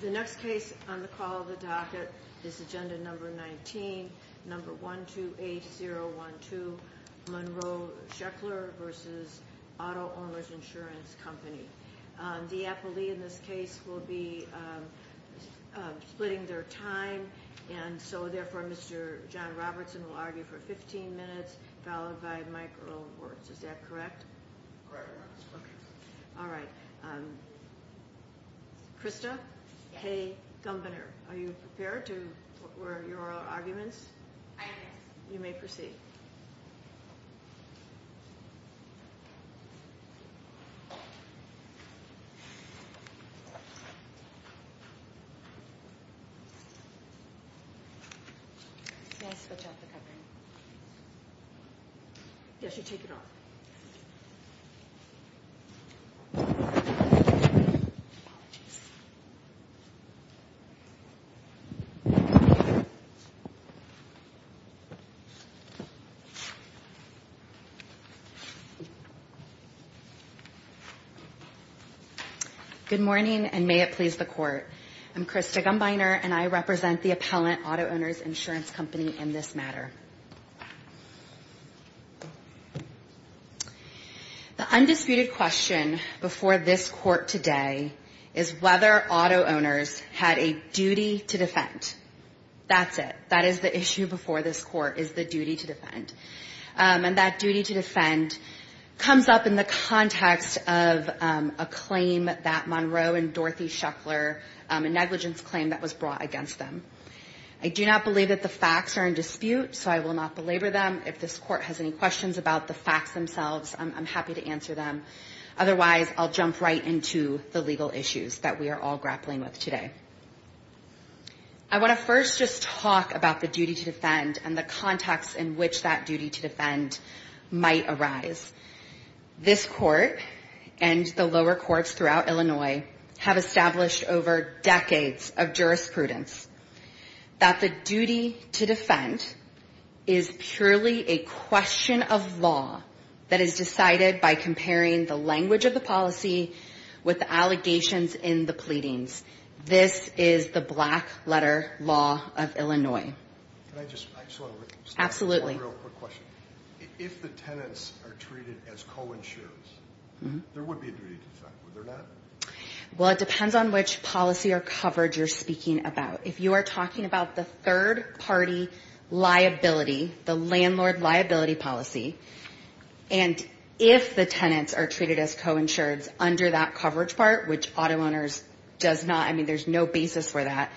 The next case on the call of the docket is Agenda Number 19, Number 128012, Monroe Sheckler v. Auto-Owners Insurance Company. The appellee in this case will be splitting their time. And so therefore, Mr. John Robertson will argue for 15 minutes, followed by Mike Earlworth. Is that correct? Correct. Okay. All right. Krista Hay-Gumbener, are you prepared for your arguments? I am. You may proceed. May I switch off the covering? Yes, you take it off. Apologies. Good morning, and may it please the Court. I'm Krista Gumbiner, and I represent the appellant, Auto-Owners Insurance Company, in this matter. The undisputed question before this Court today is whether auto-owners had a duty to defend. That's it. That is the issue before this Court, is the duty to defend. And that duty to defend comes up in the context of a claim that Monroe and Dorothy Sheckler, a negligence claim that was brought against them. I do not believe that the facts are in dispute, so I will not belabor them. If this Court has any questions about the facts themselves, I'm happy to answer them. Otherwise, I'll jump right into the legal issues that we are all grappling with today. I want to first just talk about the duty to defend and the context in which that duty to defend might arise. This Court and the lower courts throughout Illinois have established over decades of jurisprudence that the duty to defend is purely a question of law that is decided by comparing the language of the policy with the allegations in the pleadings. This is the black-letter law of Illinois. Can I just – I just want to – Absolutely. One real quick question. If the tenants are treated as co-insurers, there would be a duty to defend, would there not? Well, it depends on which policy or coverage you're speaking about. If you are talking about the third-party liability, the landlord liability policy, and if the tenants are treated as co-insureds under that coverage part, which auto owners does not – I mean, there's no basis for that,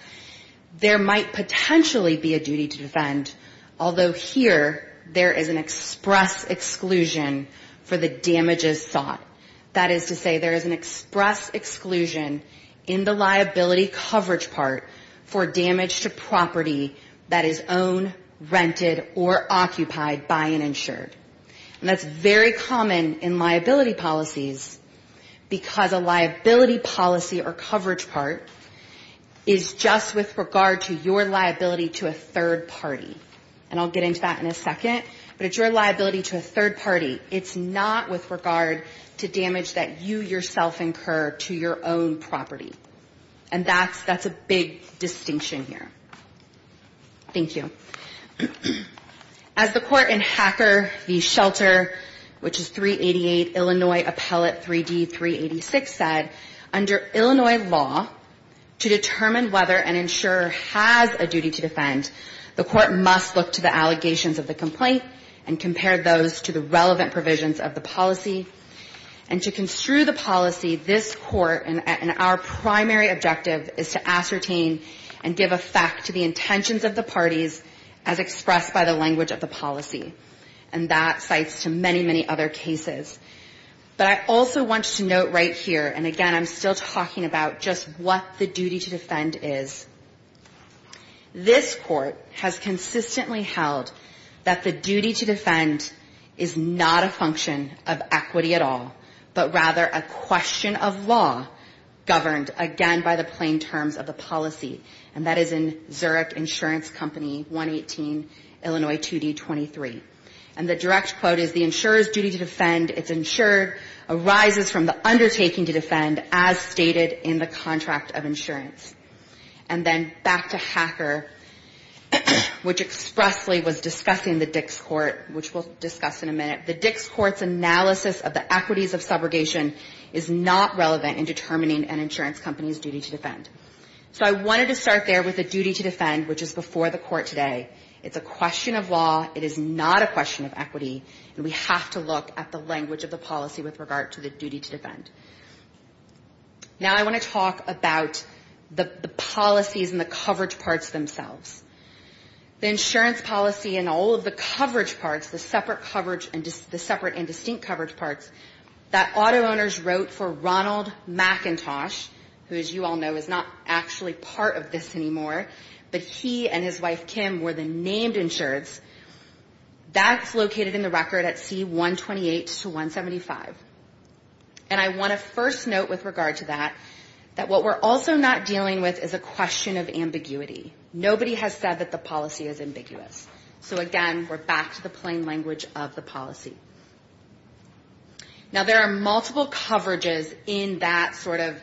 there might potentially be a duty to defend, although here there is an express exclusion for the damages sought. That is to say there is an express exclusion in the liability coverage part for damage to property that is owned, rented, or occupied by an insured. And that's very common in liability policies because a liability policy or coverage part is just with regard to your liability to a third party. And I'll get into that in a second, but it's your liability to a third party. It's not with regard to damage that you yourself incur to your own property. And that's a big distinction here. Thank you. As the court in Hacker v. Shelter, which is 388 Illinois Appellate 3D 386 said, under Illinois law, to determine whether an insurer has a duty to defend, the court must look to the allegations of the complaint and compare those to the relevant provisions of the policy. And to construe the policy, this court, and our primary objective is to ascertain and give effect to the intentions of the parties as expressed by the language of the policy. And that cites to many, many other cases. But I also want to note right here, and again, I'm still talking about just what the duty to defend is. This court has consistently held that the duty to defend is not a function of equity at all, but rather a question of law governed, again, by the plain terms of the policy. And that is in Zurich Insurance Company 118, Illinois 2D 23. And the direct quote is, the insurer's duty to defend, it's insured, arises from the undertaking to defend as stated in the contract of insurance. And then back to Hacker, which expressly was discussing the Dix Court, which we'll discuss in a minute, the Dix Court's analysis of the equities of subrogation is not relevant in determining an insurance company's duty to defend. So I wanted to start there with the duty to defend, which is before the court today. It's a question of law. It is not a question of equity. And we have to look at the language of the policy with regard to the duty to defend. Now I want to talk about the policies and the coverage parts themselves. The insurance policy and all of the coverage parts, the separate coverage and distinct coverage parts that auto owners wrote for Ronald McIntosh, who as you all know is not actually part of this anymore, but he and his wife Kim were the named insureds. That's located in the record at C128 to 175. And I want to first note with regard to that, that what we're also not dealing with is a question of ambiguity. Nobody has said that the policy is ambiguous. So again, we're back to the plain language of the policy. Now there are multiple coverages in that sort of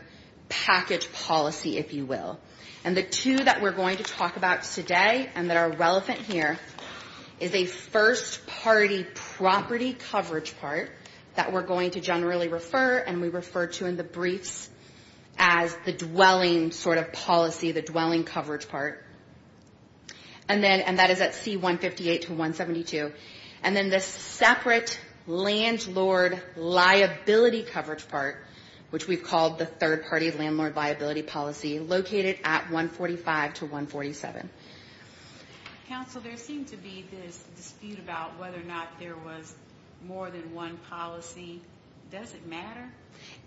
package policy, if you will. And the two that we're going to talk about today and that are relevant here is a first party property coverage part that we're going to generally refer and we refer to in the briefs as the dwelling sort of policy, the dwelling coverage part. And that is at C158 to 172. And then this separate landlord liability coverage part, which we've called the third party landlord liability policy, located at 145 to 147. Counsel, there seemed to be this dispute about whether or not there was more than one policy. Does it matter?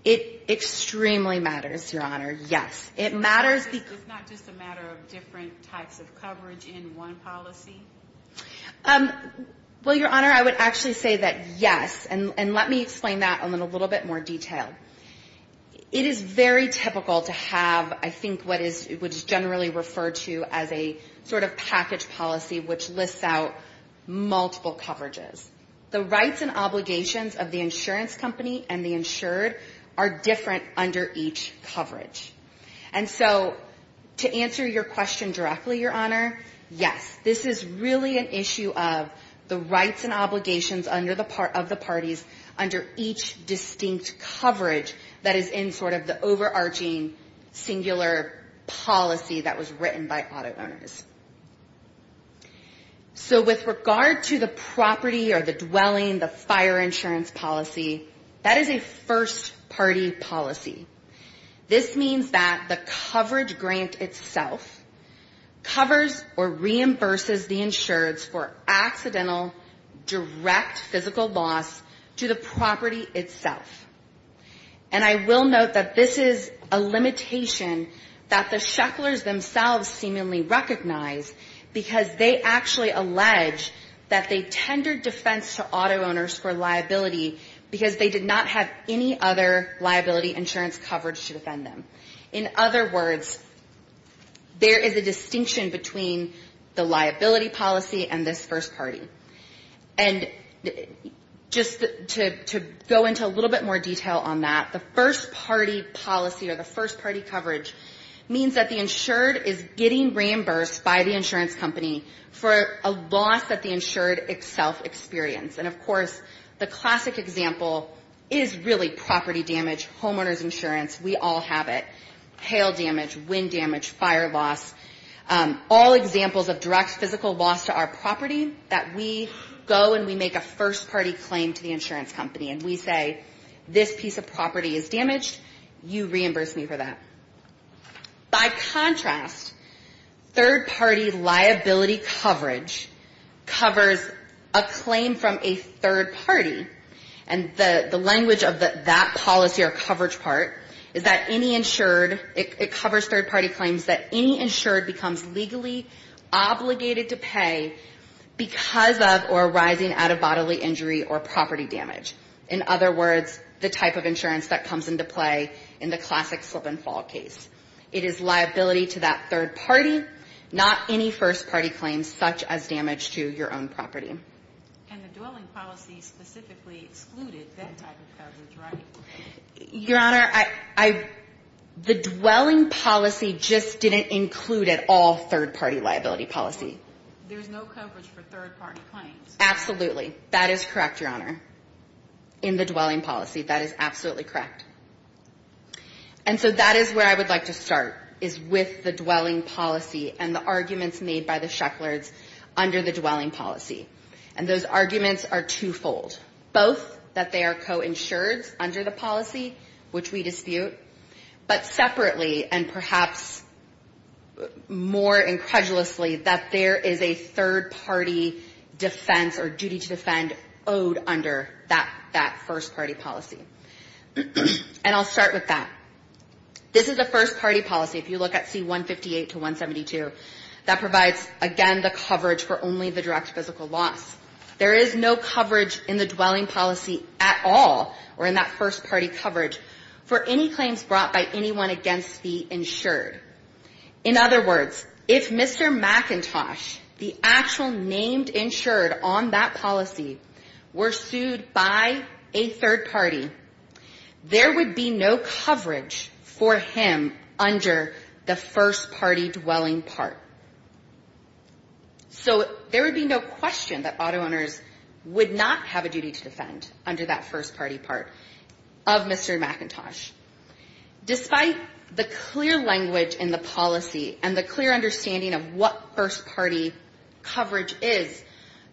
It extremely matters, Your Honor. Yes, it matters. It's not just a matter of different types of coverage in one policy? Well, Your Honor, I would actually say that yes. And let me explain that in a little bit more detail. It is very typical to have, I think, what is generally referred to as a sort of package policy, which lists out multiple coverages. The rights and obligations of the insurance company and the insured are different under each coverage. And so to answer your question directly, Your Honor, yes, this is really an issue of the rights and obligations of the parties under each distinct coverage that is in sort of the overarching singular policy that was written by auto owners. So with regard to the property or the dwelling, the fire insurance policy, that is a first-party policy. This means that the coverage grant itself covers or reimburses the insureds for accidental direct physical loss to the property itself. And I will note that this is a limitation that the Shecklers themselves seemingly recognize, because they actually allege that they tendered defense to auto owners for liability because they did not have any other liability insurance coverage to defend them. In other words, there is a distinction between the liability policy and this first party. And just to go into a little bit more detail on that, the first-party policy or the first-party coverage means that the insured is getting reimbursed by the insurance company for a loss that the insured itself experienced. And, of course, the classic example is really property damage, homeowners insurance, we all have it, hail damage, wind damage, fire loss, all examples of direct physical loss to our property that we go and we make a first-party claim to the insurance company and we say, this piece of property is damaged, you reimburse me for that. By contrast, third-party liability coverage covers a claim from a third-party, and the language of that policy or coverage part is that any insured, it covers third-party claims that any insured becomes legally obligated to pay because of or arising out of bodily injury or property damage. In other words, the type of insurance that comes into play in the classic slip-and-fall case. It is liability to that third-party, not any first-party claims such as damage to your own property. Your Honor, the dwelling policy just didn't include at all third-party liability policy. Absolutely. That is correct, Your Honor, in the dwelling policy. That is absolutely correct. And so that is where I would like to start, is with the dwelling policy and the arguments made by the Sheckler's under the dwelling policy. And those arguments are twofold. Both that they are coinsured under the policy, which we dispute, but separately and perhaps more incredulously that there is a third-party defense or duty to defend owed under that first-party policy. And I'll start with that. This is a first-party policy, if you look at C-158 to 172, that provides, again, the coverage for only the direct physical loss. There is no coverage in the dwelling policy at all or in that first-party coverage for any claims brought by anyone against the insured. In other words, if Mr. McIntosh, the actual named insured on that policy, were sued by a third party, there would be no coverage for him under the first-party dwelling part. So there would be no question that auto owners would not have a duty to defend under that first-party part of Mr. McIntosh. Despite the clear language in the policy and the clear understanding of what first-party coverage is,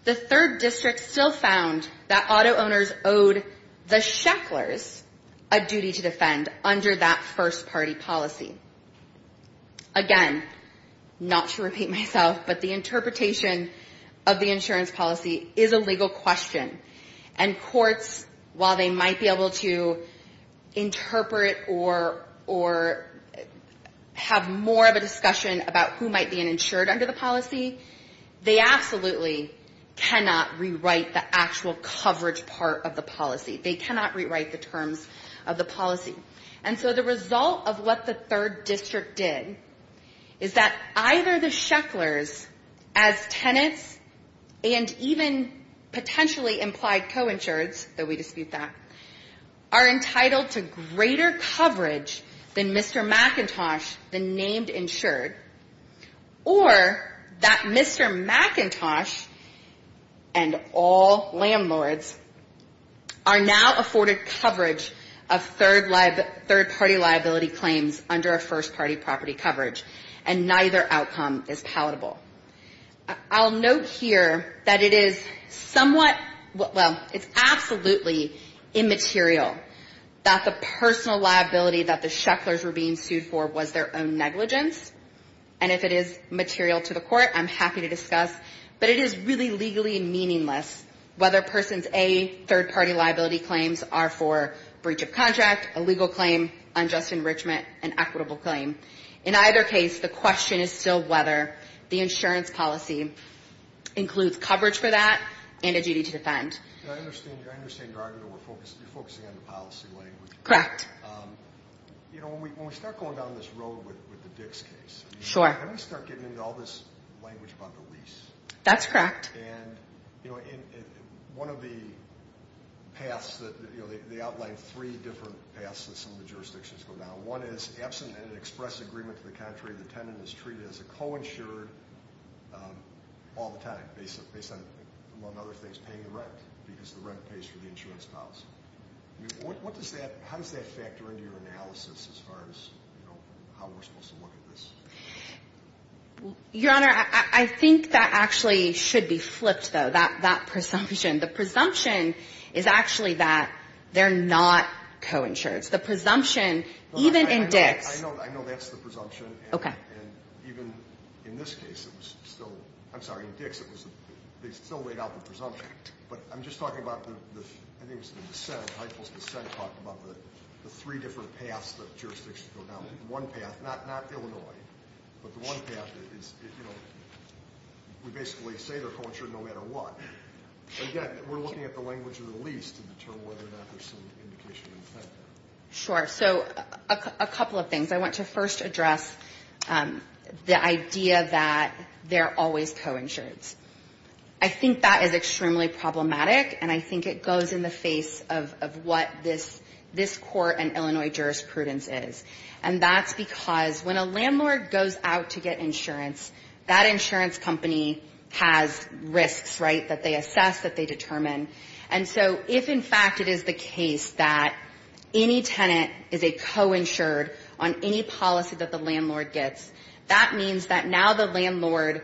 the third district still found that auto owners owed the Sheckler's a duty to defend under that first-party policy. Again, not to repeat myself, but the interpretation of the insurance policy is a legal question. And courts, while they might be able to interpret or have more of a discussion about who might be an insured under the policy, they absolutely cannot rewrite the actual coverage part of the policy. They cannot rewrite the terms of the policy. And so the result of what the third district did is that either the Sheckler's as tenants and even potentially implied co-insureds, though we dispute that, are entitled to greater coverage than Mr. McIntosh, the named insured, or that Mr. McIntosh and all landlords are now afforded coverage of third-party liability claims under a first-party property coverage, and neither outcome is palatable. I'll note here that it is somewhat, well, it's absolutely immaterial that the personal liability that the Sheckler's were being sued for was their own negligence. And if it is material to the court, I'm happy to discuss. But it is really legally meaningless whether persons A, third-party liability claims are for breach of contract, a legal claim, unjust enrichment, an insurance policy, includes coverage for that, and a duty to defend. Q And I understand you're focusing on the policy language. When we start going down this road with the Dix case, how do we start getting into all this language about the lease? A That's correct. Q And one of the paths, they outline three different paths that some of the jurisdictions go down. One is absent an express agreement to the contrary. The tenant is treated as a co-insured all the time, based on, among other things, paying the rent, because the rent pays for the insurance policy. What does that, how does that factor into your analysis as far as, you know, how we're supposed to look at this? A Your Honor, I think that actually should be flipped, though, that presumption. The presumption is actually that they're not co-insured. The presumption, even in Dix. Q I know that's the presumption. And even in this case, it was still, I'm sorry, in Dix, it was, they still laid out the presumption. But I'm just talking about the, I think it was the dissent, Heitel's dissent talked about the three different paths that jurisdictions go down. One path, not Illinois, but the one path is, you know, we basically say they're co-insured no matter what. Again, we're looking at the language of the lease to determine whether or not there's some indication of that. A Sure. So a couple of things. I want to first address the idea that they're always co-insured. I think that is extremely problematic, and I think it goes in the face of what this court and Illinois jurisprudence is. And that's because when a landlord goes out to get insurance, that insurance company has risks, right, that they assess, that they determine. And that insurance company has risks that they assess. And so if, in fact, it is the case that any tenant is a co-insured on any policy that the landlord gets, that means that now the landlord,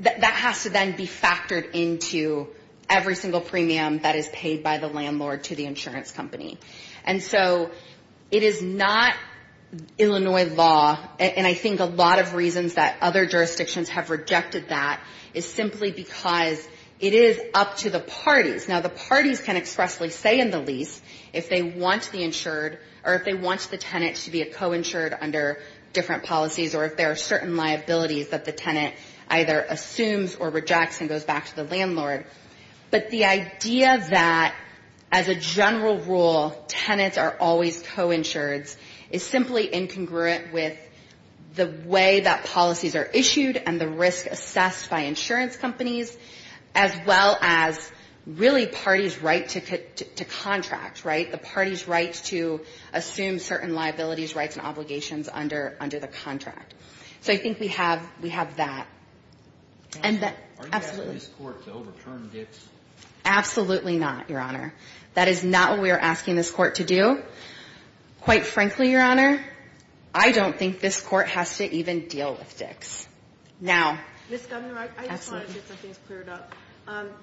that has to then be factored into every single premium that is paid by the landlord to the insurance company. And so it is not Illinois law, and I think a lot of reasons that other jurisdictions have rejected that is simply because it is up to the parties. Now the parties can expressly say in the lease if they want the insured or if they want the tenant to be a co-insured under different policies or if there are certain liabilities that the tenant either assumes or rejects and goes back to the landlord. But the idea that as a general rule, tenants are always co-insureds is simply incongruent with the way that policies are issued and the risk assessed by insurance companies, as well as really parties' right to contract, right, the parties' right to assume certain liabilities, rights and obligations under the contract. So I think we have that. And that, absolutely. Absolutely not, Your Honor. That is not what we are asking this Court to do. Quite frankly, Your Honor, I don't think this Court has to even deal with dicks. Now, Ms. Governor, I just wanted to get some things cleared up.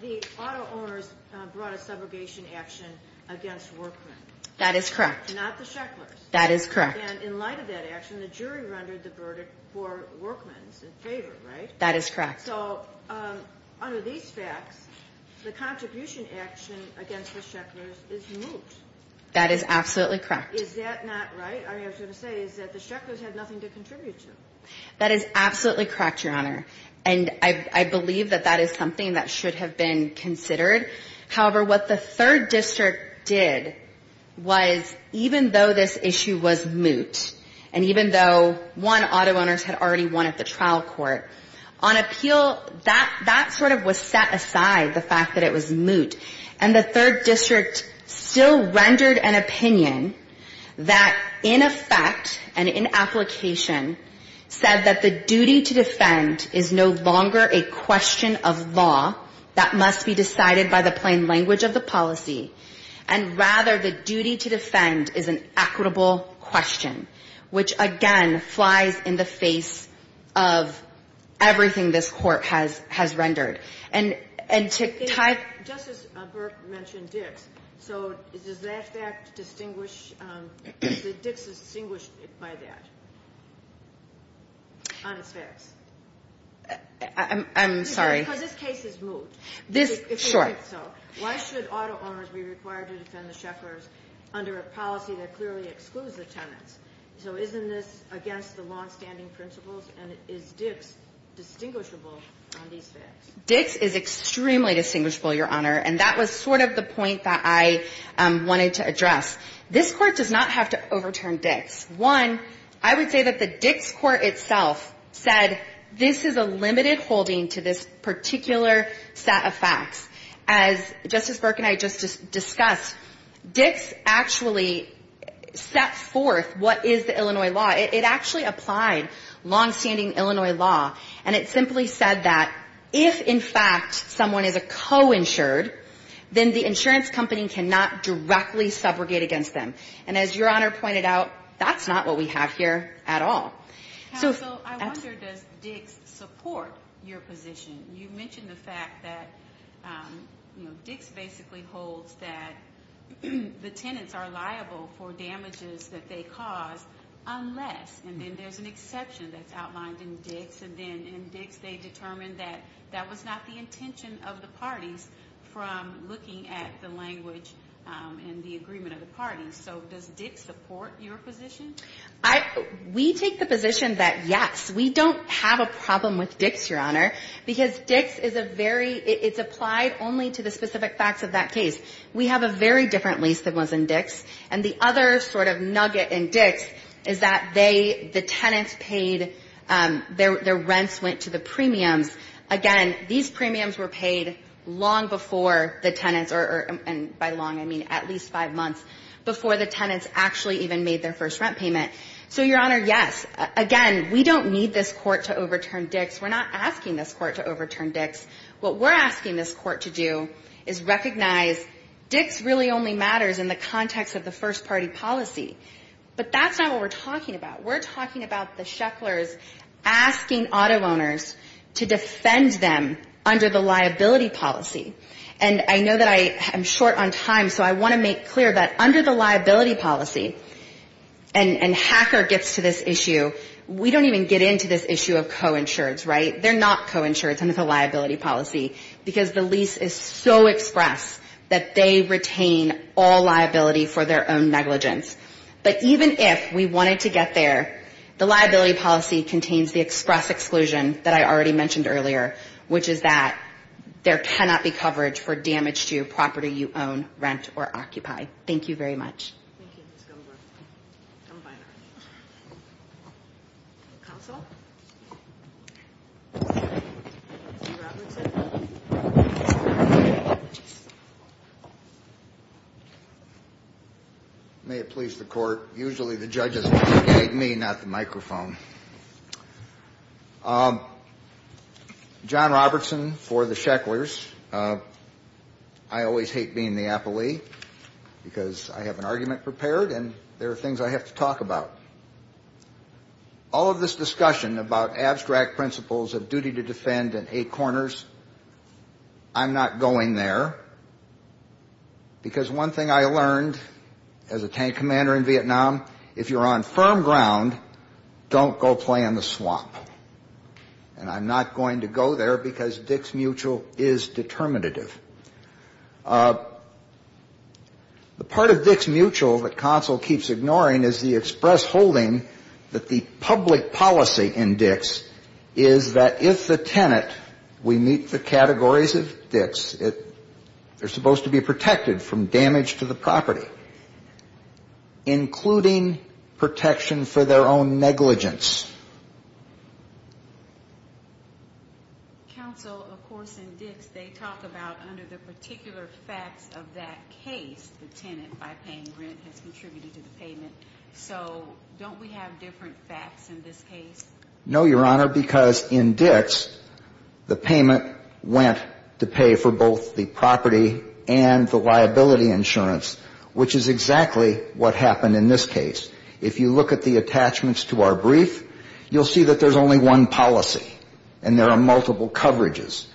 The auto owners brought a subrogation action against workmen. That is correct. Not the shecklers. That is correct. And in light of that action, the jury rendered the verdict for workmen in favor, right? That is correct. So under these facts, the contribution action against the shecklers is moot. That is absolutely correct. Is that not right? I was going to say, is that the shecklers had nothing to contribute to? That is absolutely correct, Your Honor. And I believe that that is something that should have been considered. However, what the Third District did was, even though this issue was moot, and even though, one, auto owners had already won at the trial court, on appeal, that sort of was set aside, the fact that it was moot. And the Third District still rendered an opinion that, in effect, and in application, said that the issue was moot. That the duty to defend is no longer a question of law that must be decided by the plain language of the policy, and rather, the duty to defend is an equitable question, which, again, flies in the face of everything this Court has rendered. And to tie it to that, Justice Burke mentioned Dick's. So does that distinguish, does Dick's distinguish it by that? On its fairs? I'm sorry. Because this case is moot. Sure. Why should auto owners be required to defend the shecklers under a policy that clearly excludes the tenants? So isn't this against the longstanding principles? And is Dick's distinguishable on these fairs? Dick's is extremely distinguishable, Your Honor. And that was sort of the point that I wanted to address. This Court does not have to overturn Dick's. One, I would say that the Dick's Court itself, in its own right, is not subject to the Illinois law. And so, as Justice Burke said, this is a limited holding to this particular set of facts. As Justice Burke and I just discussed, Dick's actually set forth what is the Illinois law. It actually applied longstanding Illinois law. And it simply said that if, in fact, someone is a co-insured, then the insurance company cannot directly subrogate against them. And as Your Honor pointed out, that's not what we have here at all. So I wonder, does Dick's support your position? You mentioned the fact that, you know, Dick's basically holds that the tenants are liable for damages that they cause unless, and then there's an exception that's outlined in Dick's, and then in Dick's they determined that that was not the intention of the parties from looking at the language and the agreement of the parties. So does Dick's support your position? We take the position that, yes, we don't have a problem with Dick's, Your Honor, because Dick's is a very, it's applied only to the specific facts of that case. We have a very different lease than was in Dick's. And the other sort of nugget in Dick's is that they, the tenants paid, their rents went to the premiums. Again, these premiums were paid long before the tenants, or by long, I mean at least five months before the tenants actually even made their first rent payment. So, Your Honor, yes. Again, we don't need this court to overturn Dick's. We're not asking this court to overturn Dick's. What we're asking this court to do is recognize Dick's really only matters in the context of the first-party policy. But that's not what we're talking about. We're talking about the Shecklers asking auto owners to defend them under the liability policy. And Hacker gets to this issue. We don't even get into this issue of co-insureds, right? They're not co-insureds under the liability policy, because the lease is so express that they retain all liability for their own negligence. But even if we wanted to get there, the liability policy contains the express exclusion that I already mentioned earlier, which is that there cannot be coverage for damage to your property you own, rent, or occupy. Thank you very much. May it please the Court. Usually the judge is looking at me, not the microphone. John Robertson for the Shecklers. I always hate being the appellee, because I have an argument prepared, and there are things I have to talk about. All of this discussion about abstract principles of duty to defend and eight corners, I'm not going there, because one thing I learned as a tank commander in Vietnam, if you're on firm ground, don't talk to me. If you're on firm ground, don't talk to me. Don't go play in the swamp. And I'm not going to go there, because Dix Mutual is determinative. The part of Dix Mutual that counsel keeps ignoring is the express holding that the public policy in Dix is that if the tenant, we meet the categories of Dix, they're supposed to be protected from damage to the property, including protection for their own negligence. Counsel, of course, in Dix, they talk about under the particular facts of that case, the tenant by paying rent has contributed to the payment. So don't we have different facts in this case? No, Your Honor, because in Dix, the payment went to pay for both the property and the liability insurance, which is exactly what happened in this case. If you look at the attachments to our brief, you'll see that there's only one policy, and there are multiple coverages.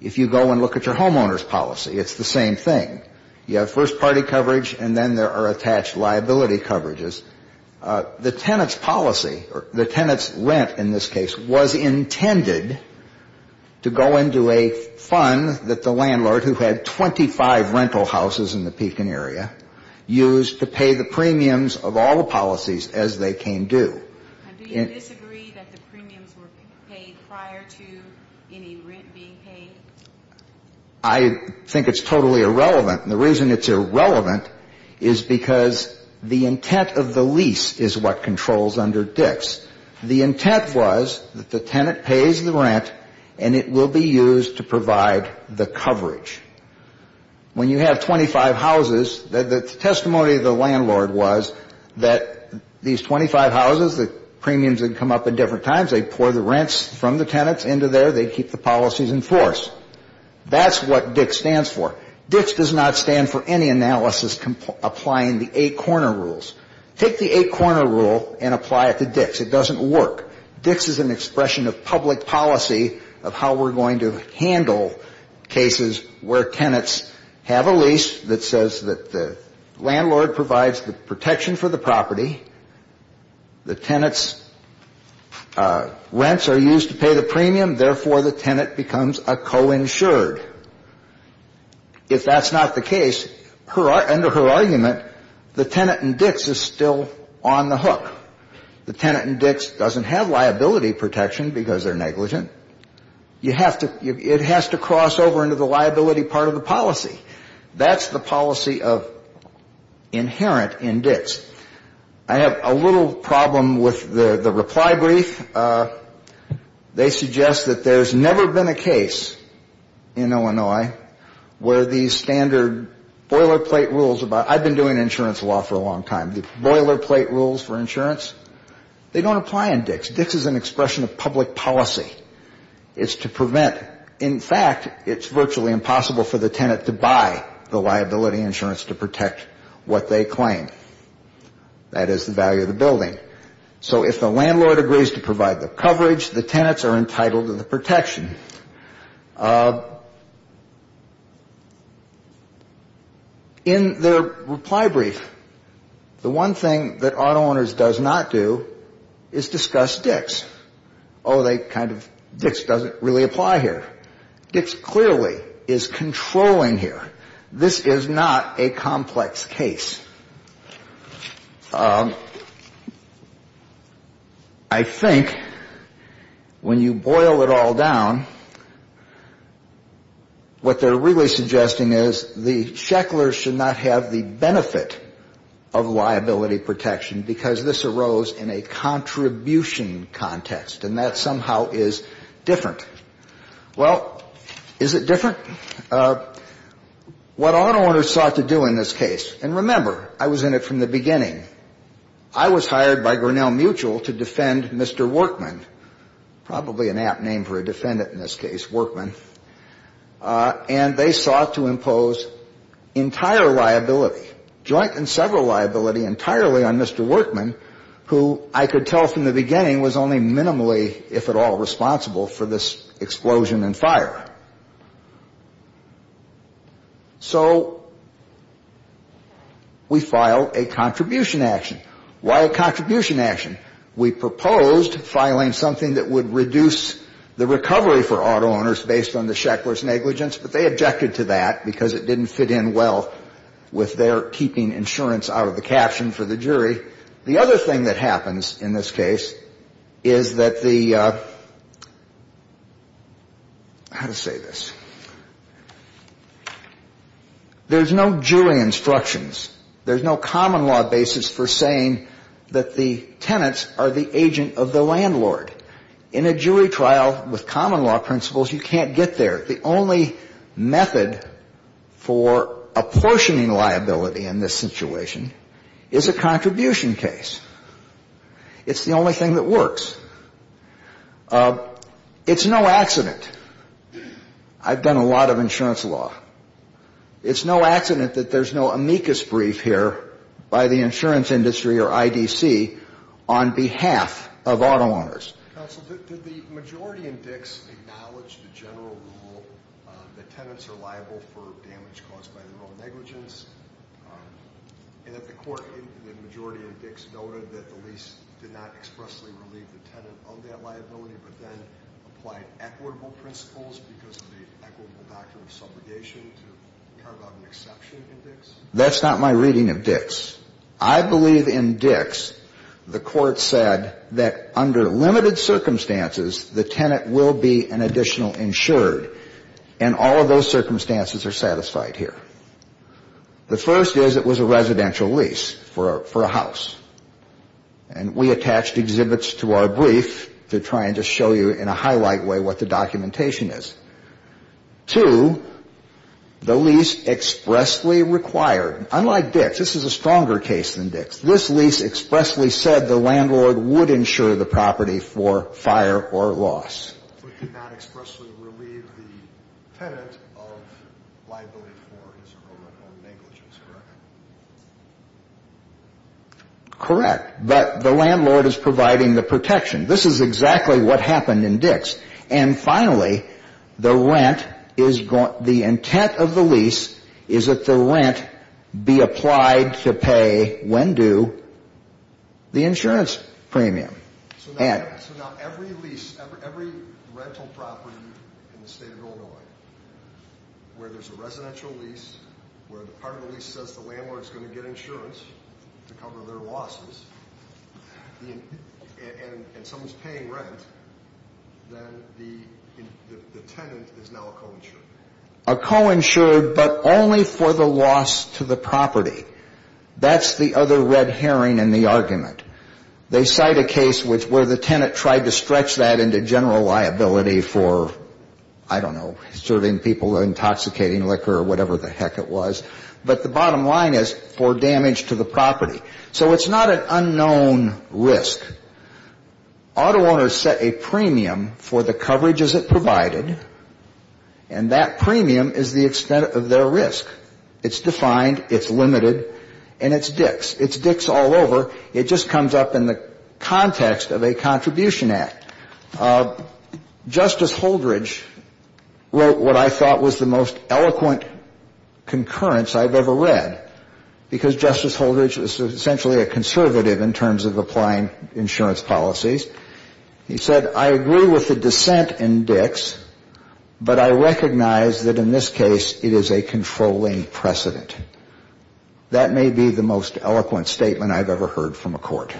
If you go and look at your homeowner's policy, it's the same thing. You have first party coverage, and then there are attached liability coverages. The tenant's policy, or the tenant's rent in this case, was intended to go into a fund that the landlord, who had 25 rental houses in the Pekin area, used to pay the premiums of all the policies as they came due. And do you disagree that the premiums were paid prior to any rent being paid? I think it's totally irrelevant, and the reason it's irrelevant is because the intent of the lease is what controls under Dix. The intent was that the tenant pays the rent, and it will be used to provide the coverage. When you have 25 rental houses in the Pekin area, 25 houses, the testimony of the landlord was that these 25 houses, the premiums would come up at different times. They'd pour the rents from the tenants into there. They'd keep the policies in force. That's what Dix stands for. Dix does not stand for any analysis applying the eight corner rules. Take the eight corner rule and apply it to Dix. It doesn't work. Dix is an expression of public policy of how we're going to handle cases where tenants have a lease, and we're going to have a lease that says that the landlord provides the protection for the property. The tenant's rents are used to pay the premium. Therefore, the tenant becomes a coinsured. If that's not the case, under her argument, the tenant in Dix is still on the hook. The tenant in Dix doesn't have liability protection because they're negligent. It has to cross over into the liability part of the policy. That's the policy inherent in Dix. I have a little problem with the reply brief. They suggest that there's never been a case in Illinois where these standard boilerplate rules about, I've been doing insurance law for a long time, the boilerplate rules for insurance, they don't apply in Dix. Dix is an expression of public policy. It's to prevent, in fact, it's virtually impossible for the tenant to buy the liability insurance to protect what they claim. That is the value of the building. So if the landlord agrees to provide the coverage, the tenants are entitled to the protection. In their reply brief, the one thing that Auto Owners does not do is discuss Dix. Oh, they kind of, Dix doesn't really apply here. Dix clearly is controlling here. This is not a complex case. I think when you boil it all down, what they're really suggesting is the Shecklers should not have the benefit of liability protection because this arose in a contribution context. And that somehow is different. Well, is it different? What Auto Owners sought to do in this case, and remember, I was in it from the beginning, I was hired by Grinnell Mutual to defend Mr. Workman, probably an apt name for a defendant in this case, Workman, and they sought to impose entire liability, joint and several liability entirely on Mr. Workman, who I could tell from the beginning was only minimally, if at all, responsible for this explosion and fire. So we filed a contribution action. Why a contribution action? We proposed filing something that would reduce the recovery for Auto Owners based on the Shecklers negligence, but they objected to that because it didn't fit in well with their keeping insurance out of the caption for the jury. How to say this? There's no jury instructions. There's no common law basis for saying that the tenants are the agent of the landlord. In a jury trial with common law principles, you can't get there. The only method for apportioning liability in this situation is a contribution case. It's the only thing that works. It's no accident. I've done a lot of insurance law. It's no accident that there's no amicus brief here by the insurance industry or IDC on behalf of Auto Owners. I believe in Dix, the court said that under limited circumstances, the tenant will be an additional insured, and all of those circumstances are satisfied here. The first is it was a residential lease for a house, and we attached exhibits to our briefs. To try and just show you in a highlight way what the documentation is. Two, the lease expressly required, unlike Dix, this is a stronger case than Dix, this lease expressly said the landlord would insure the property for fire or loss. The landlord is providing the protection. This is exactly what happened in Dix. And finally, the rent, the intent of the lease is that the rent be applied to pay, when due, the insurance premium. So now every lease, every rental property in the state of Illinois, where there's a residential lease, where the part of the lease says the landlord is going to get insurance to cover their losses, and someone's paying rent, then the tenant is now a co-insured. A co-insured, but only for the loss to the property. That's the other red herring in the argument. They cite a case where the tenant tried to stretch that into general liability for, I don't know, serving people intoxicating liquor or whatever the heck it was, but the bottom line is for damage to the property. So it's not an unknown risk. Auto owners set a premium for the coverages it provided, and that premium is the extent of their risk. It's defined, it's limited, and it's Dix. It's Dix all over. It just comes up in the context of a contribution act. Justice Holdridge wrote what I thought was the most eloquent concurrence I've ever read, because Justice Holdridge is essentially a conservative in terms of applying insurance policies. He said, I agree with the dissent in Dix, but I recognize that in this case, it is a controlling precedent. That may be the most eloquent statement I've ever heard from a court.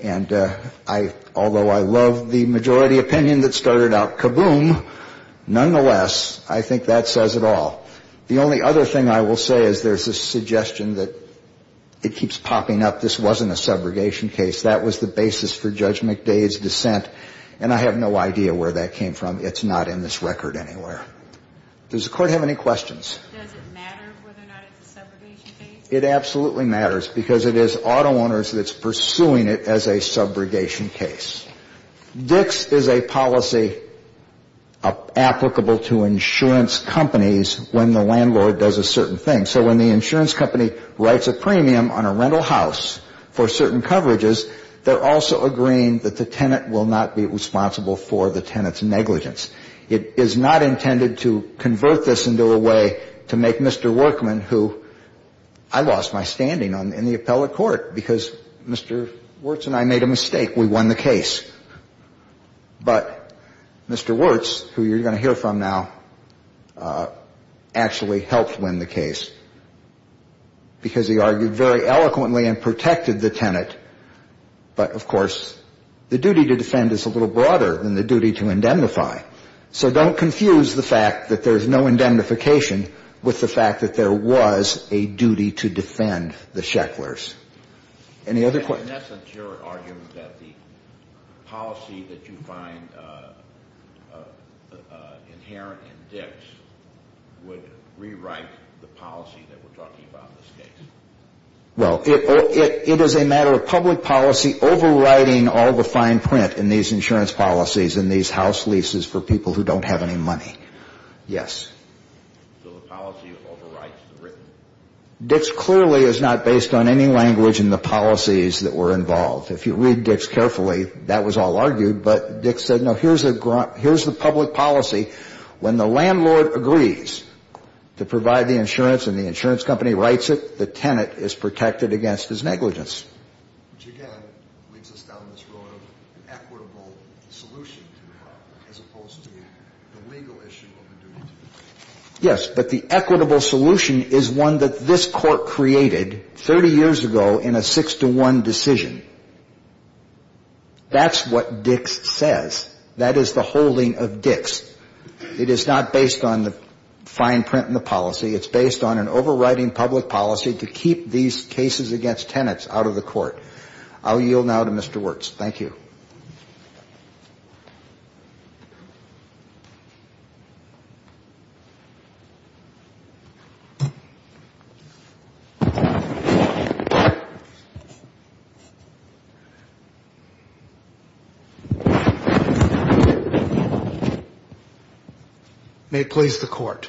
And I, although I love the majority opinion that started out, kaboom, nonetheless, I think that says it all. The only other thing I will say is there's a suggestion that it keeps popping up. This wasn't a subrogation case. That was the basis for Judge McDade's dissent, and I have no idea where that came from. It's not in this record anywhere. Does the Court have any questions? It absolutely matters, because it is auto owners that's pursuing it as a subrogation case. Dix is a policy applicable to insurance companies when the landlord does a certain thing. So when the insurance company writes a premium on a rental house for certain coverages, they're also agreeing that the tenant will not be responsible for the tenant's negligence. It is not intended to convert this into a way to make Mr. Workman, who I lost my standing in the appellate court, because Mr. Wirtz and I made a mistake. We won the case. But Mr. Wirtz, who you're going to hear from now, actually helped win the case, because he argued very eloquently and protected the tenant. But, of course, the duty to defend is a little broader than the duty to defend. So don't confuse the fact that there's no indemnification with the fact that there was a duty to defend the Shecklers. In essence, your argument that the policy that you find inherent in Dix would rewrite the policy that we're talking about in this case? Well, it is a matter of public policy overriding all the fine print in these insurance policies and these house leases for people who don't have any money. Yes. Dix clearly is not based on any language in the policies that were involved. If you read Dix carefully, that was all argued. But Dix said, no, here's the public policy. When the landlord agrees to provide the insurance and the insurance company writes it, the tenant is protected against his negligence. Yes, but the equitable solution is one that this Court created 30 years ago in a 6-1 decision. That's what Dix says. That is the holding of Dix. It is not based on the fine print in the policy. It's based on an overriding public policy to keep these cases against tenants out of the court. I'll yield now to Mr. Wirtz. Thank you. Thank you. May it please the Court.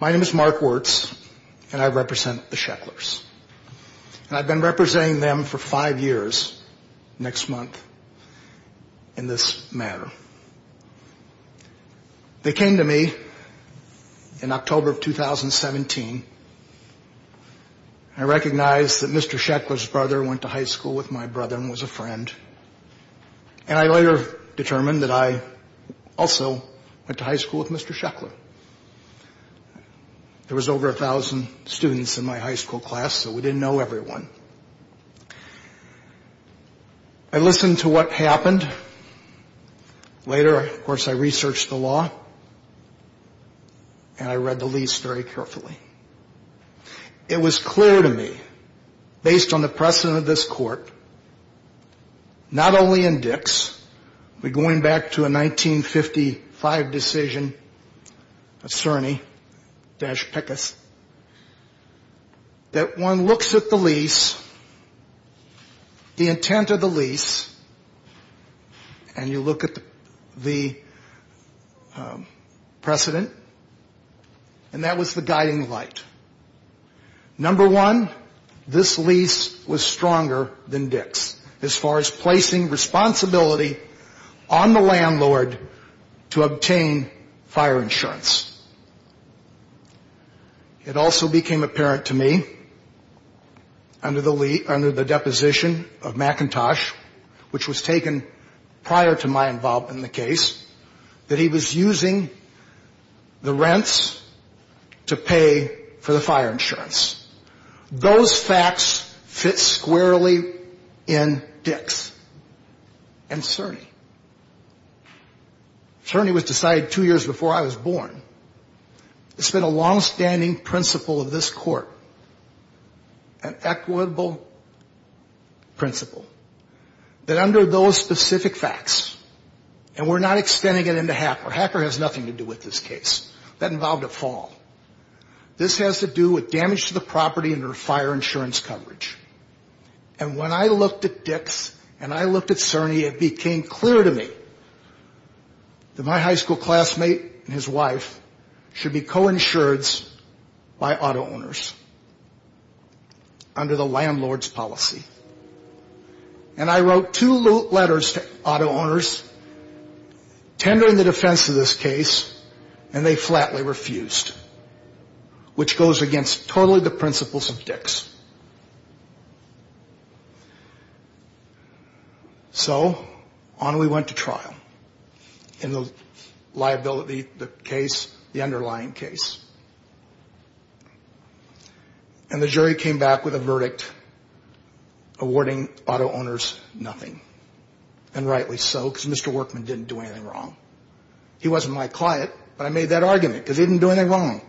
My name is Mark Wirtz, and I represent the Shecklers. And I've been representing them for five years next month in this matter. They came to me in October of 2017. I recognized that Mr. Sheckler's brother went to high school with my brother and was a friend. And I later determined that I also went to high school with Mr. Sheckler. There was over a thousand students in my high school class, so we didn't know everyone. I listened to what happened. Later, of course, I researched the law, and I read the lease very carefully. It was clear to me, based on the precedent of this Court, not only in Dix, but going back to a 1955 decision, a Cerny-Pickus, that one looks at the lease and you look at the precedent, and that was the guiding light. Number one, this lease was stronger than Dix as far as placing responsibility on the landlord to obtain fire insurance. It also became apparent to me, under the deposition of McIntosh, which was taken prior to my involvement in the case, that he was using the rents to pay for the fire insurance. Those facts fit squarely in Dix and Cerny. Cerny was decided two years before I was born. It's been a long-standing principle of this Court, an equitable principle, that under those specific facts, and we're not extending it into Hacker. Hacker has nothing to do with this case. That involved a fall. This has to do with damage to the property under fire insurance coverage. And when I looked at Dix and I looked at Cerny, it became clear to me that my high school classmate and his wife were not going to be able to pay for the fire insurance. They were going to have to pay for the fire insurance, and the property should be co-insureds by auto owners, under the landlord's policy. And I wrote two letters to auto owners, tendering the defense of this case, and they flatly refused, which goes against totally the principles of Dix. So on we went to trial in the liability case of Dix and Cerny. And the jury came back with a verdict awarding auto owners nothing, and rightly so, because Mr. Workman didn't do anything wrong. He wasn't my client, but I made that argument, because he didn't do anything wrong.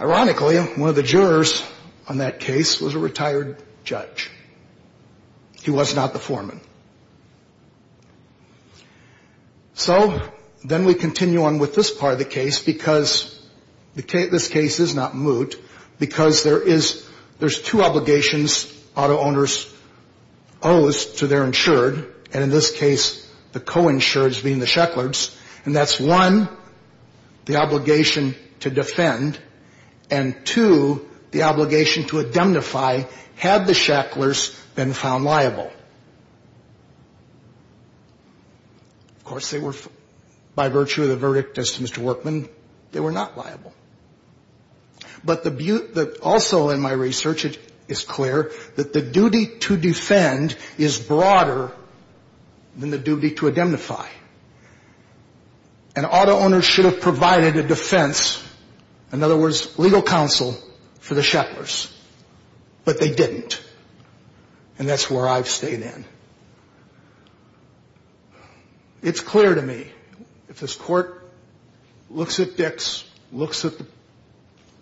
Ironically, one of the jurors on that case was a retired judge. He was not the foreman. So then we continue on with this part of the case, because this case is not moot, because there is, there's two obligations auto owners owes to their insured, and in this case, the co-insureds being the Shacklers, and that's one, the obligation to defend, and two, the obligation to indemnify had the Shacklers been found liable. Of course, they were, by virtue of the verdict as to Mr. Workman, they were not liable. But the, also in my research, it is clear that the duty to defend is broader than the duty to indemnify. And auto owners should have provided a defense, in other words, legal counsel for the Shacklers, but they didn't. And that's where I've stayed in. It's clear to me, if this Court looks at Dix, looks at the,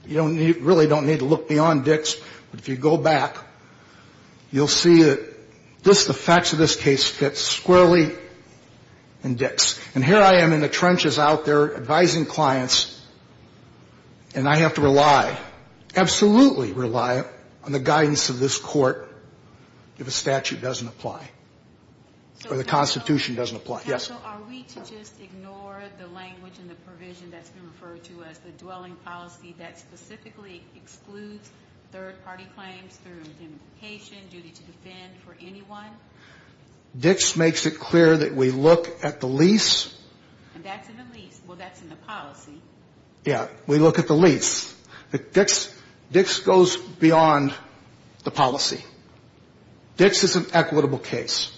you don't need, really don't need to look beyond Dix, but if you go back, you'll see that just the facts of this case fit squarely in Dix. And here I am in the trenches out there advising clients, and I have to rely, absolutely rely on the guidance of this Court. If a statute doesn't apply, or the Constitution doesn't apply. Yes? Dix makes it clear that we look at the lease. Yeah, we look at the lease. Dix is an equitable case.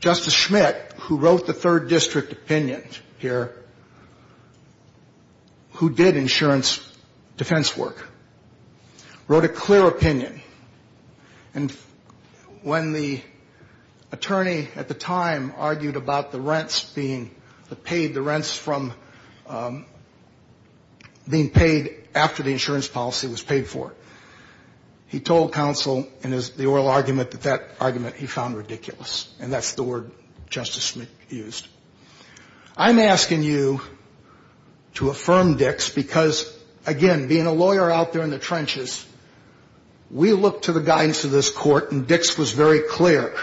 Justice Schmitt, who wrote the third district opinion here, who did insurance defense work, wrote a clear opinion. And when the attorney at the time argued about the rents being, the paid, the rents from being paid after the insurance policy was paid for, he told counsel, and is the oral argument, that that argument he found ridiculous, and that's the word Justice Schmitt used. I'm asking you to affirm Dix, because, again, being a lawyer out there in the trenches, we look to the guidance of this Court, and Dix was very clear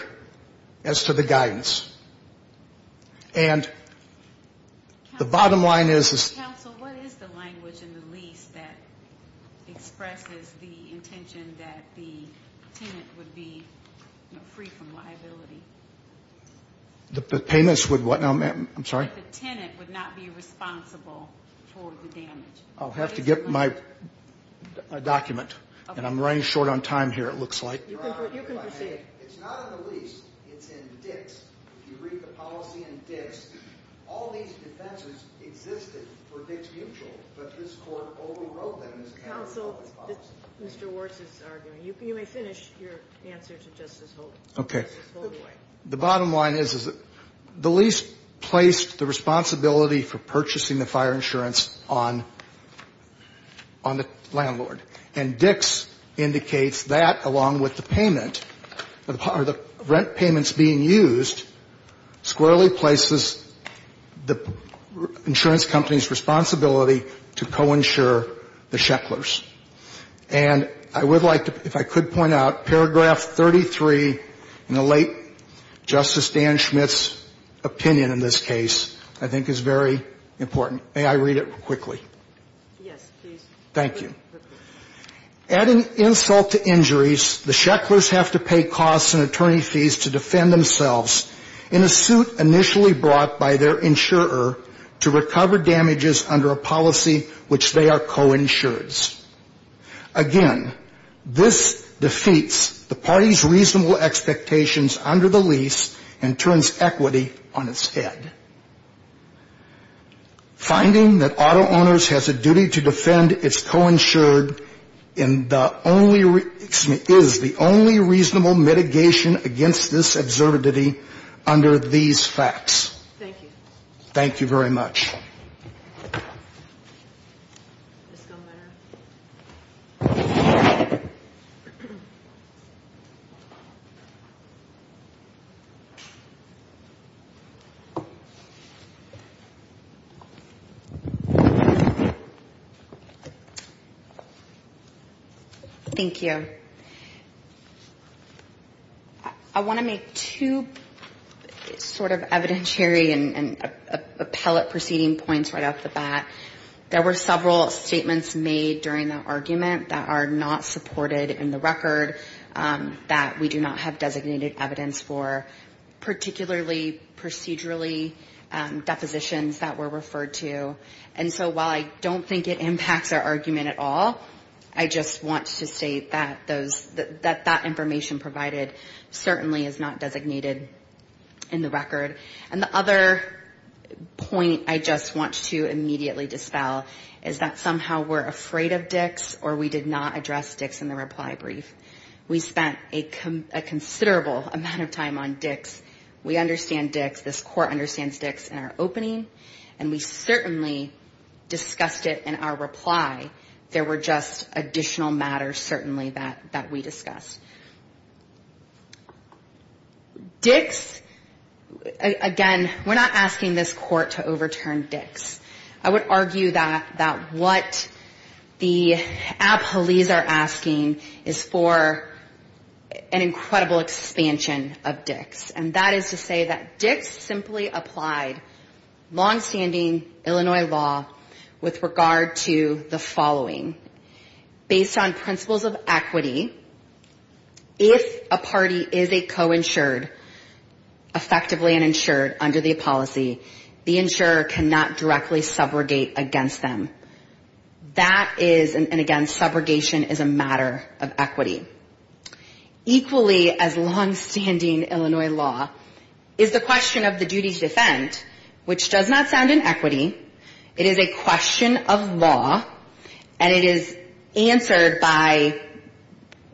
as to the guidance. And the bottom line is... The tenants would be free from liability. The payments would what? I'm sorry? The tenant would not be responsible for the damage. I'll have to get my document, and I'm running short on time here, it looks like. It's not in the lease, it's in Dix. If you read the policy in Dix, all these defenses existed for Dix Mutual, but this Court overrode them as a matter of public policy. Counsel, this is Mr. Wirtz's argument. You may finish your answer to Justice Holdaway. Okay. The bottom line is the lease placed the responsibility for purchasing the fire insurance on the landlord. And Dix indicates that, along with the payment, are the rent payments being used to pay the landlord. And Dix's argument is that the lease placed squarely places the insurance company's responsibility to co-insure the shecklers. And I would like to, if I could point out, paragraph 33 in the late Justice Dan Schmidt's opinion in this case, I think is very important. May I read it quickly? Yes, please. Thank you. Adding insult to injuries, the shecklers have to pay costs and attorney fees to defend themselves in a suit initially brought by their insurer to recover damages under a policy which they are co-insureds. Again, this defeats the party's reasonable expectations under the lease and turns equity on its head. Finding that auto owners has a duty to defend its co-insured is the only reasonable mitigation against this observability under these facts. Thank you. Thank you very much. Thank you. I want to make two sort of evidentiary and appellate proceeding points right off the bat. There were several statements made during the argument that are not supported in the record, that we do not have designated evidence for, particularly procedurally in the case. Depositions that were referred to, and so while I don't think it impacts our argument at all, I just want to state that those, that that information provided certainly is not designated in the record. And the other point I just want to immediately dispel is that somehow we're afraid of DICS or we did not address DICS in the reply brief. We spent a considerable amount of time on DICS. DICS, again, we're not asking this Court to overturn DICS. I would argue that what the appellees are asking is for an incredible expansion of DICS. And that is to say that DICS simply applied longstanding Illinois law with regard to the following. Based on principles of equity, if a party is a coinsured, effectively an insured under the policy, the insurer cannot directly subrogate against them. That is, and again, subrogation is a matter of equity. Equally as longstanding Illinois law is the question of the duty to defend, which does not sound in equity. It is a question of law, and it is answered by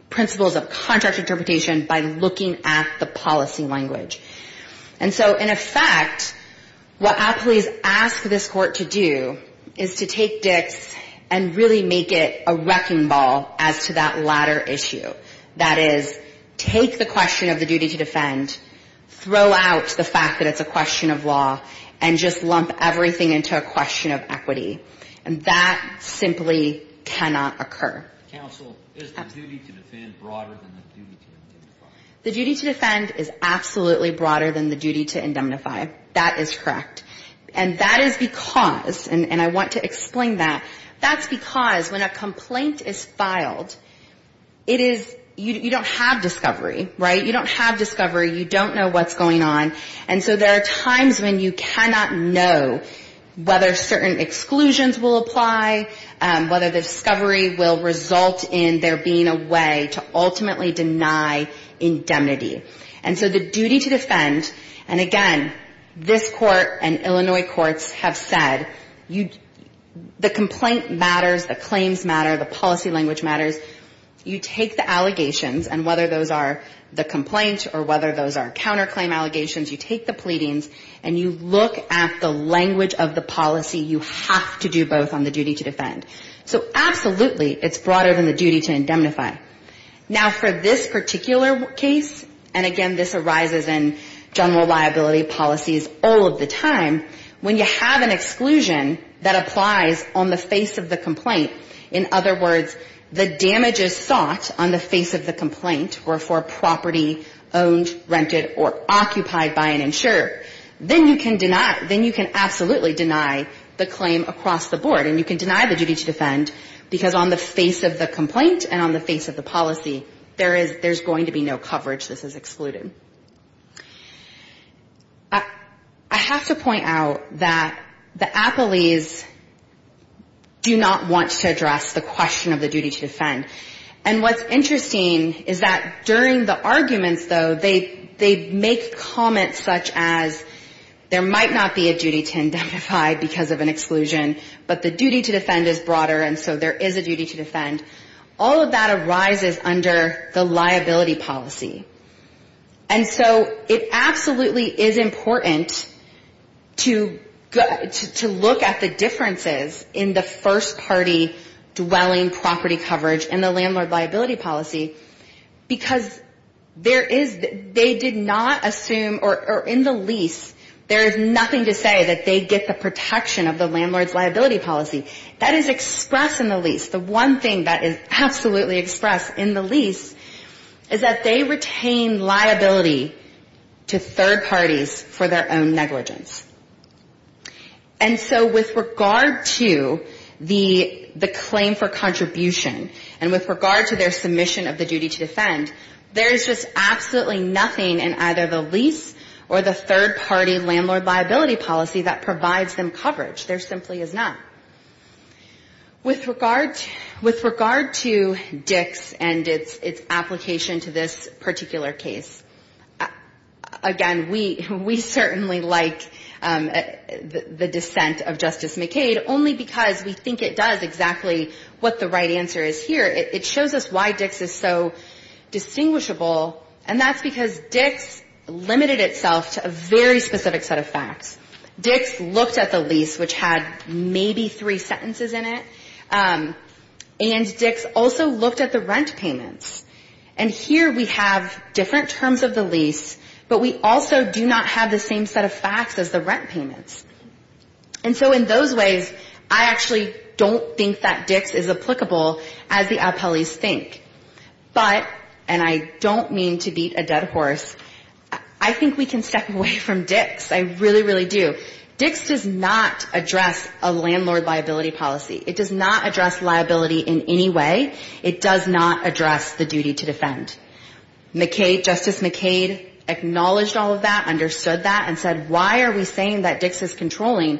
principles of contract interpretation by looking at the policy language. And so in effect, what appellees ask this Court to do is to take DICS and really make it a wrecking ball as to that latter issue. That is, take the question of the duty to defend, throw out the fact that it's a question of law, and just lump everything into a question of equity. And that simply cannot occur. The duty to defend is absolutely broader than the duty to indemnify. That is correct. And that is because, and I want to explain that, that's because when a complaint is filed, it is, you don't have discovery, right? You don't have discovery, you don't know what's going on. And so there are times when you cannot know whether certain exclusions will apply, whether the discovery will result in there being a way to ultimately deny indemnity. And so the duty to defend, and again, this Court and Illinois courts have said, the complaint matters, the claims matter, the policy language matters. You take the allegations, and whether those are the complaint or whether those are counterclaim allegations, you take the pleadings, and you look at the language of the policy, you have to do both on the duty to defend. So absolutely, it's broader than the duty to indemnify. And again, this arises in general liability policies all of the time. When you have an exclusion that applies on the face of the complaint, in other words, the damages sought on the face of the complaint, or for a property owned, rented, or occupied by an insurer, then you can deny, then you can absolutely deny the claim across the board. And you can deny the duty to defend, because on the face of the complaint and on the face of the policy, there is, there's going to be no coverage. This is excluded. I have to point out that the appellees do not want to address the question of the duty to defend. And what's interesting is that during the arguments, though, they make comments such as there might not be a duty to indemnify because of an exclusion, but the duty to defend is broader, and so there is a duty to defend. All of that arises under the liability policy. And so it absolutely is important to look at the differences in the first-party dwelling property coverage and the landlord liability policy, because there is, they did not assume, or in the lease, there is nothing to say that they get the protection of the landlord's liability policy. That is expressed in the lease. The one thing that is absolutely expressed in the lease is that they retain liability to third parties for their own negligence. And so with regard to the claim for contribution and with regard to their submission of the duty to defend, there is just absolutely nothing in either the lease or the third-party landlord liability policy that provides them coverage. There simply is not. With regard to Dix and its application to this particular case, again, we certainly like the dissent of Justice McCade, only because we think it does exactly what the right answer is here. It shows us why Dix is so distinguishable, and that's because Dix limited itself to a very specific set of facts. Dix looked at the lease, which had maybe three sentences in it, and Dix also looked at the rent payments. And here we have different terms of the lease, but we also do not have the same set of facts as the rent payments. And so in those ways, I actually don't think that Dix is applicable, as the appellees think. But, and I don't mean to beat a dead horse, I think we can step away from Dix. I really, really do. Dix does not address a landlord liability policy. It does not address liability in any way. It does not address the duty to defend. Justice McCade acknowledged all of that, understood that, and said, why are we saying that Dix is controlling?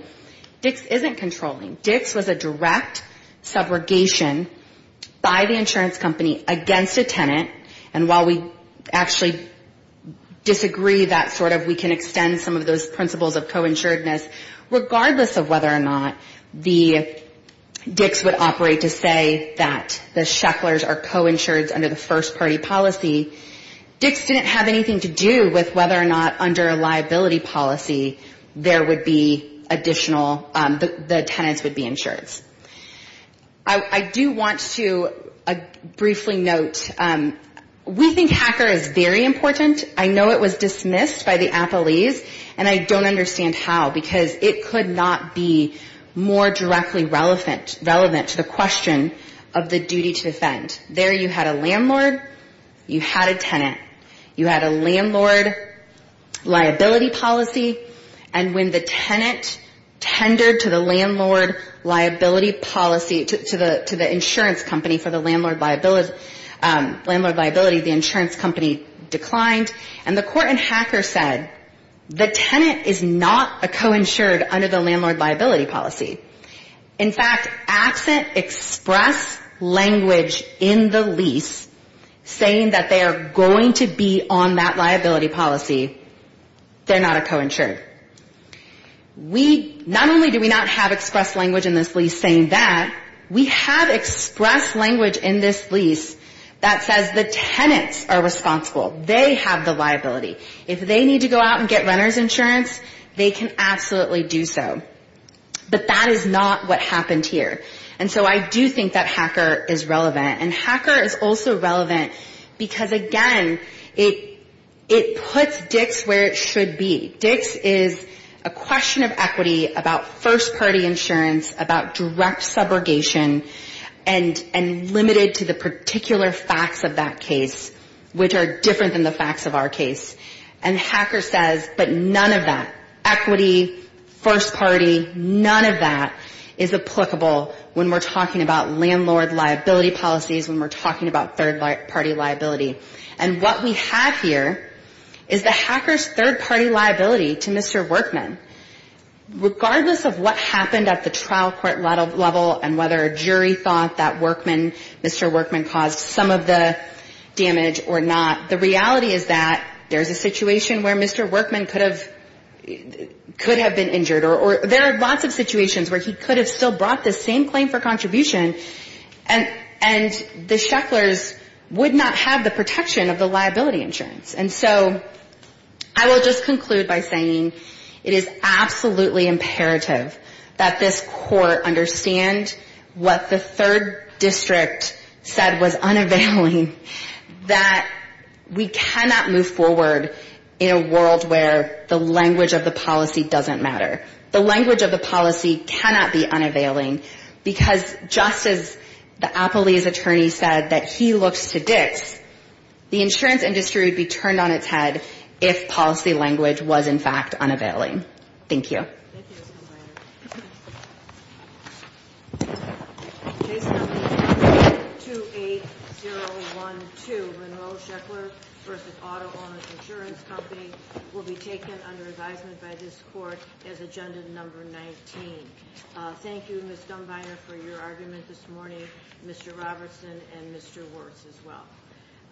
Dix isn't controlling. Dix was a direct subrogation by the insurance company against a tenant. And while we actually disagree that sort of we can extend some of those principles of co-insuredness, regardless of whether or not the Dix would operate to say that the Shecklers are co-insured under the first party policy, Dix didn't have anything to do with whether or not under a liability policy there would be additional, the tenants would be insured. I do want to briefly note, we think HACR is very important. I know it was dismissed by the appellees, and I don't understand how, because it could not be more directly relevant to the question of the duty to defend. There you had a landlord, you had a tenant, you had a landlord liability policy, and when the tenant tendered to the landlord, liability policy, to the insurance company for the landlord liability, the insurance company declined. And the court in HACR said, the tenant is not a co-insured under the landlord liability policy. In fact, absent express language in the lease saying that they are going to be on that liability policy, they're not a co-insured. We, not only do we not have express language in this lease saying that, we have express language in this lease that says the tenants are responsible. They have the liability. If they need to go out and get renter's insurance, they can absolutely do so. But that is not what happened here. And so I do think that HACR is relevant. And HACR is also relevant, because again, it puts Dix where it should be. Dix is a question of equity about first party insurance, about direct subrogation, and limited to the particular facts of that case, which are different than the facts of our case. And HACR says, but none of that, equity, first party, none of that is applicable when we're talking about landlord liability policies, when we're talking about third party liability. And what we have here is the HACR's third party liability to Mr. Workman. Regardless of what happened at the trial court level, and whether a jury thought that Workman, Mr. Workman caused some of the damage or not, the reality is that there's a situation where Mr. Workman could have been injured, or there are lots of situations where he could have still brought the same claim for contribution, and the Shecklers would not have the power to do that. And so, I will just conclude by saying, it is absolutely imperative that this court understand what the third district said was unavailing, that we cannot move forward in a world where the language of the policy doesn't matter. The language of the policy cannot be unavailing, because just as the appellee's attorney said that he looks to Dix, the insurance industry would be turned on its head if policy language was, in fact, unavailing. Thank you. Case number 28012, Monroe Sheckler v. Auto Owners Insurance Company, will be taken under advisement by this court as agenda number 19. Thank you, Ms. Dunbiner, for your argument this morning, Mr. Robertson, and Mr. Wirtz as well. Thank you.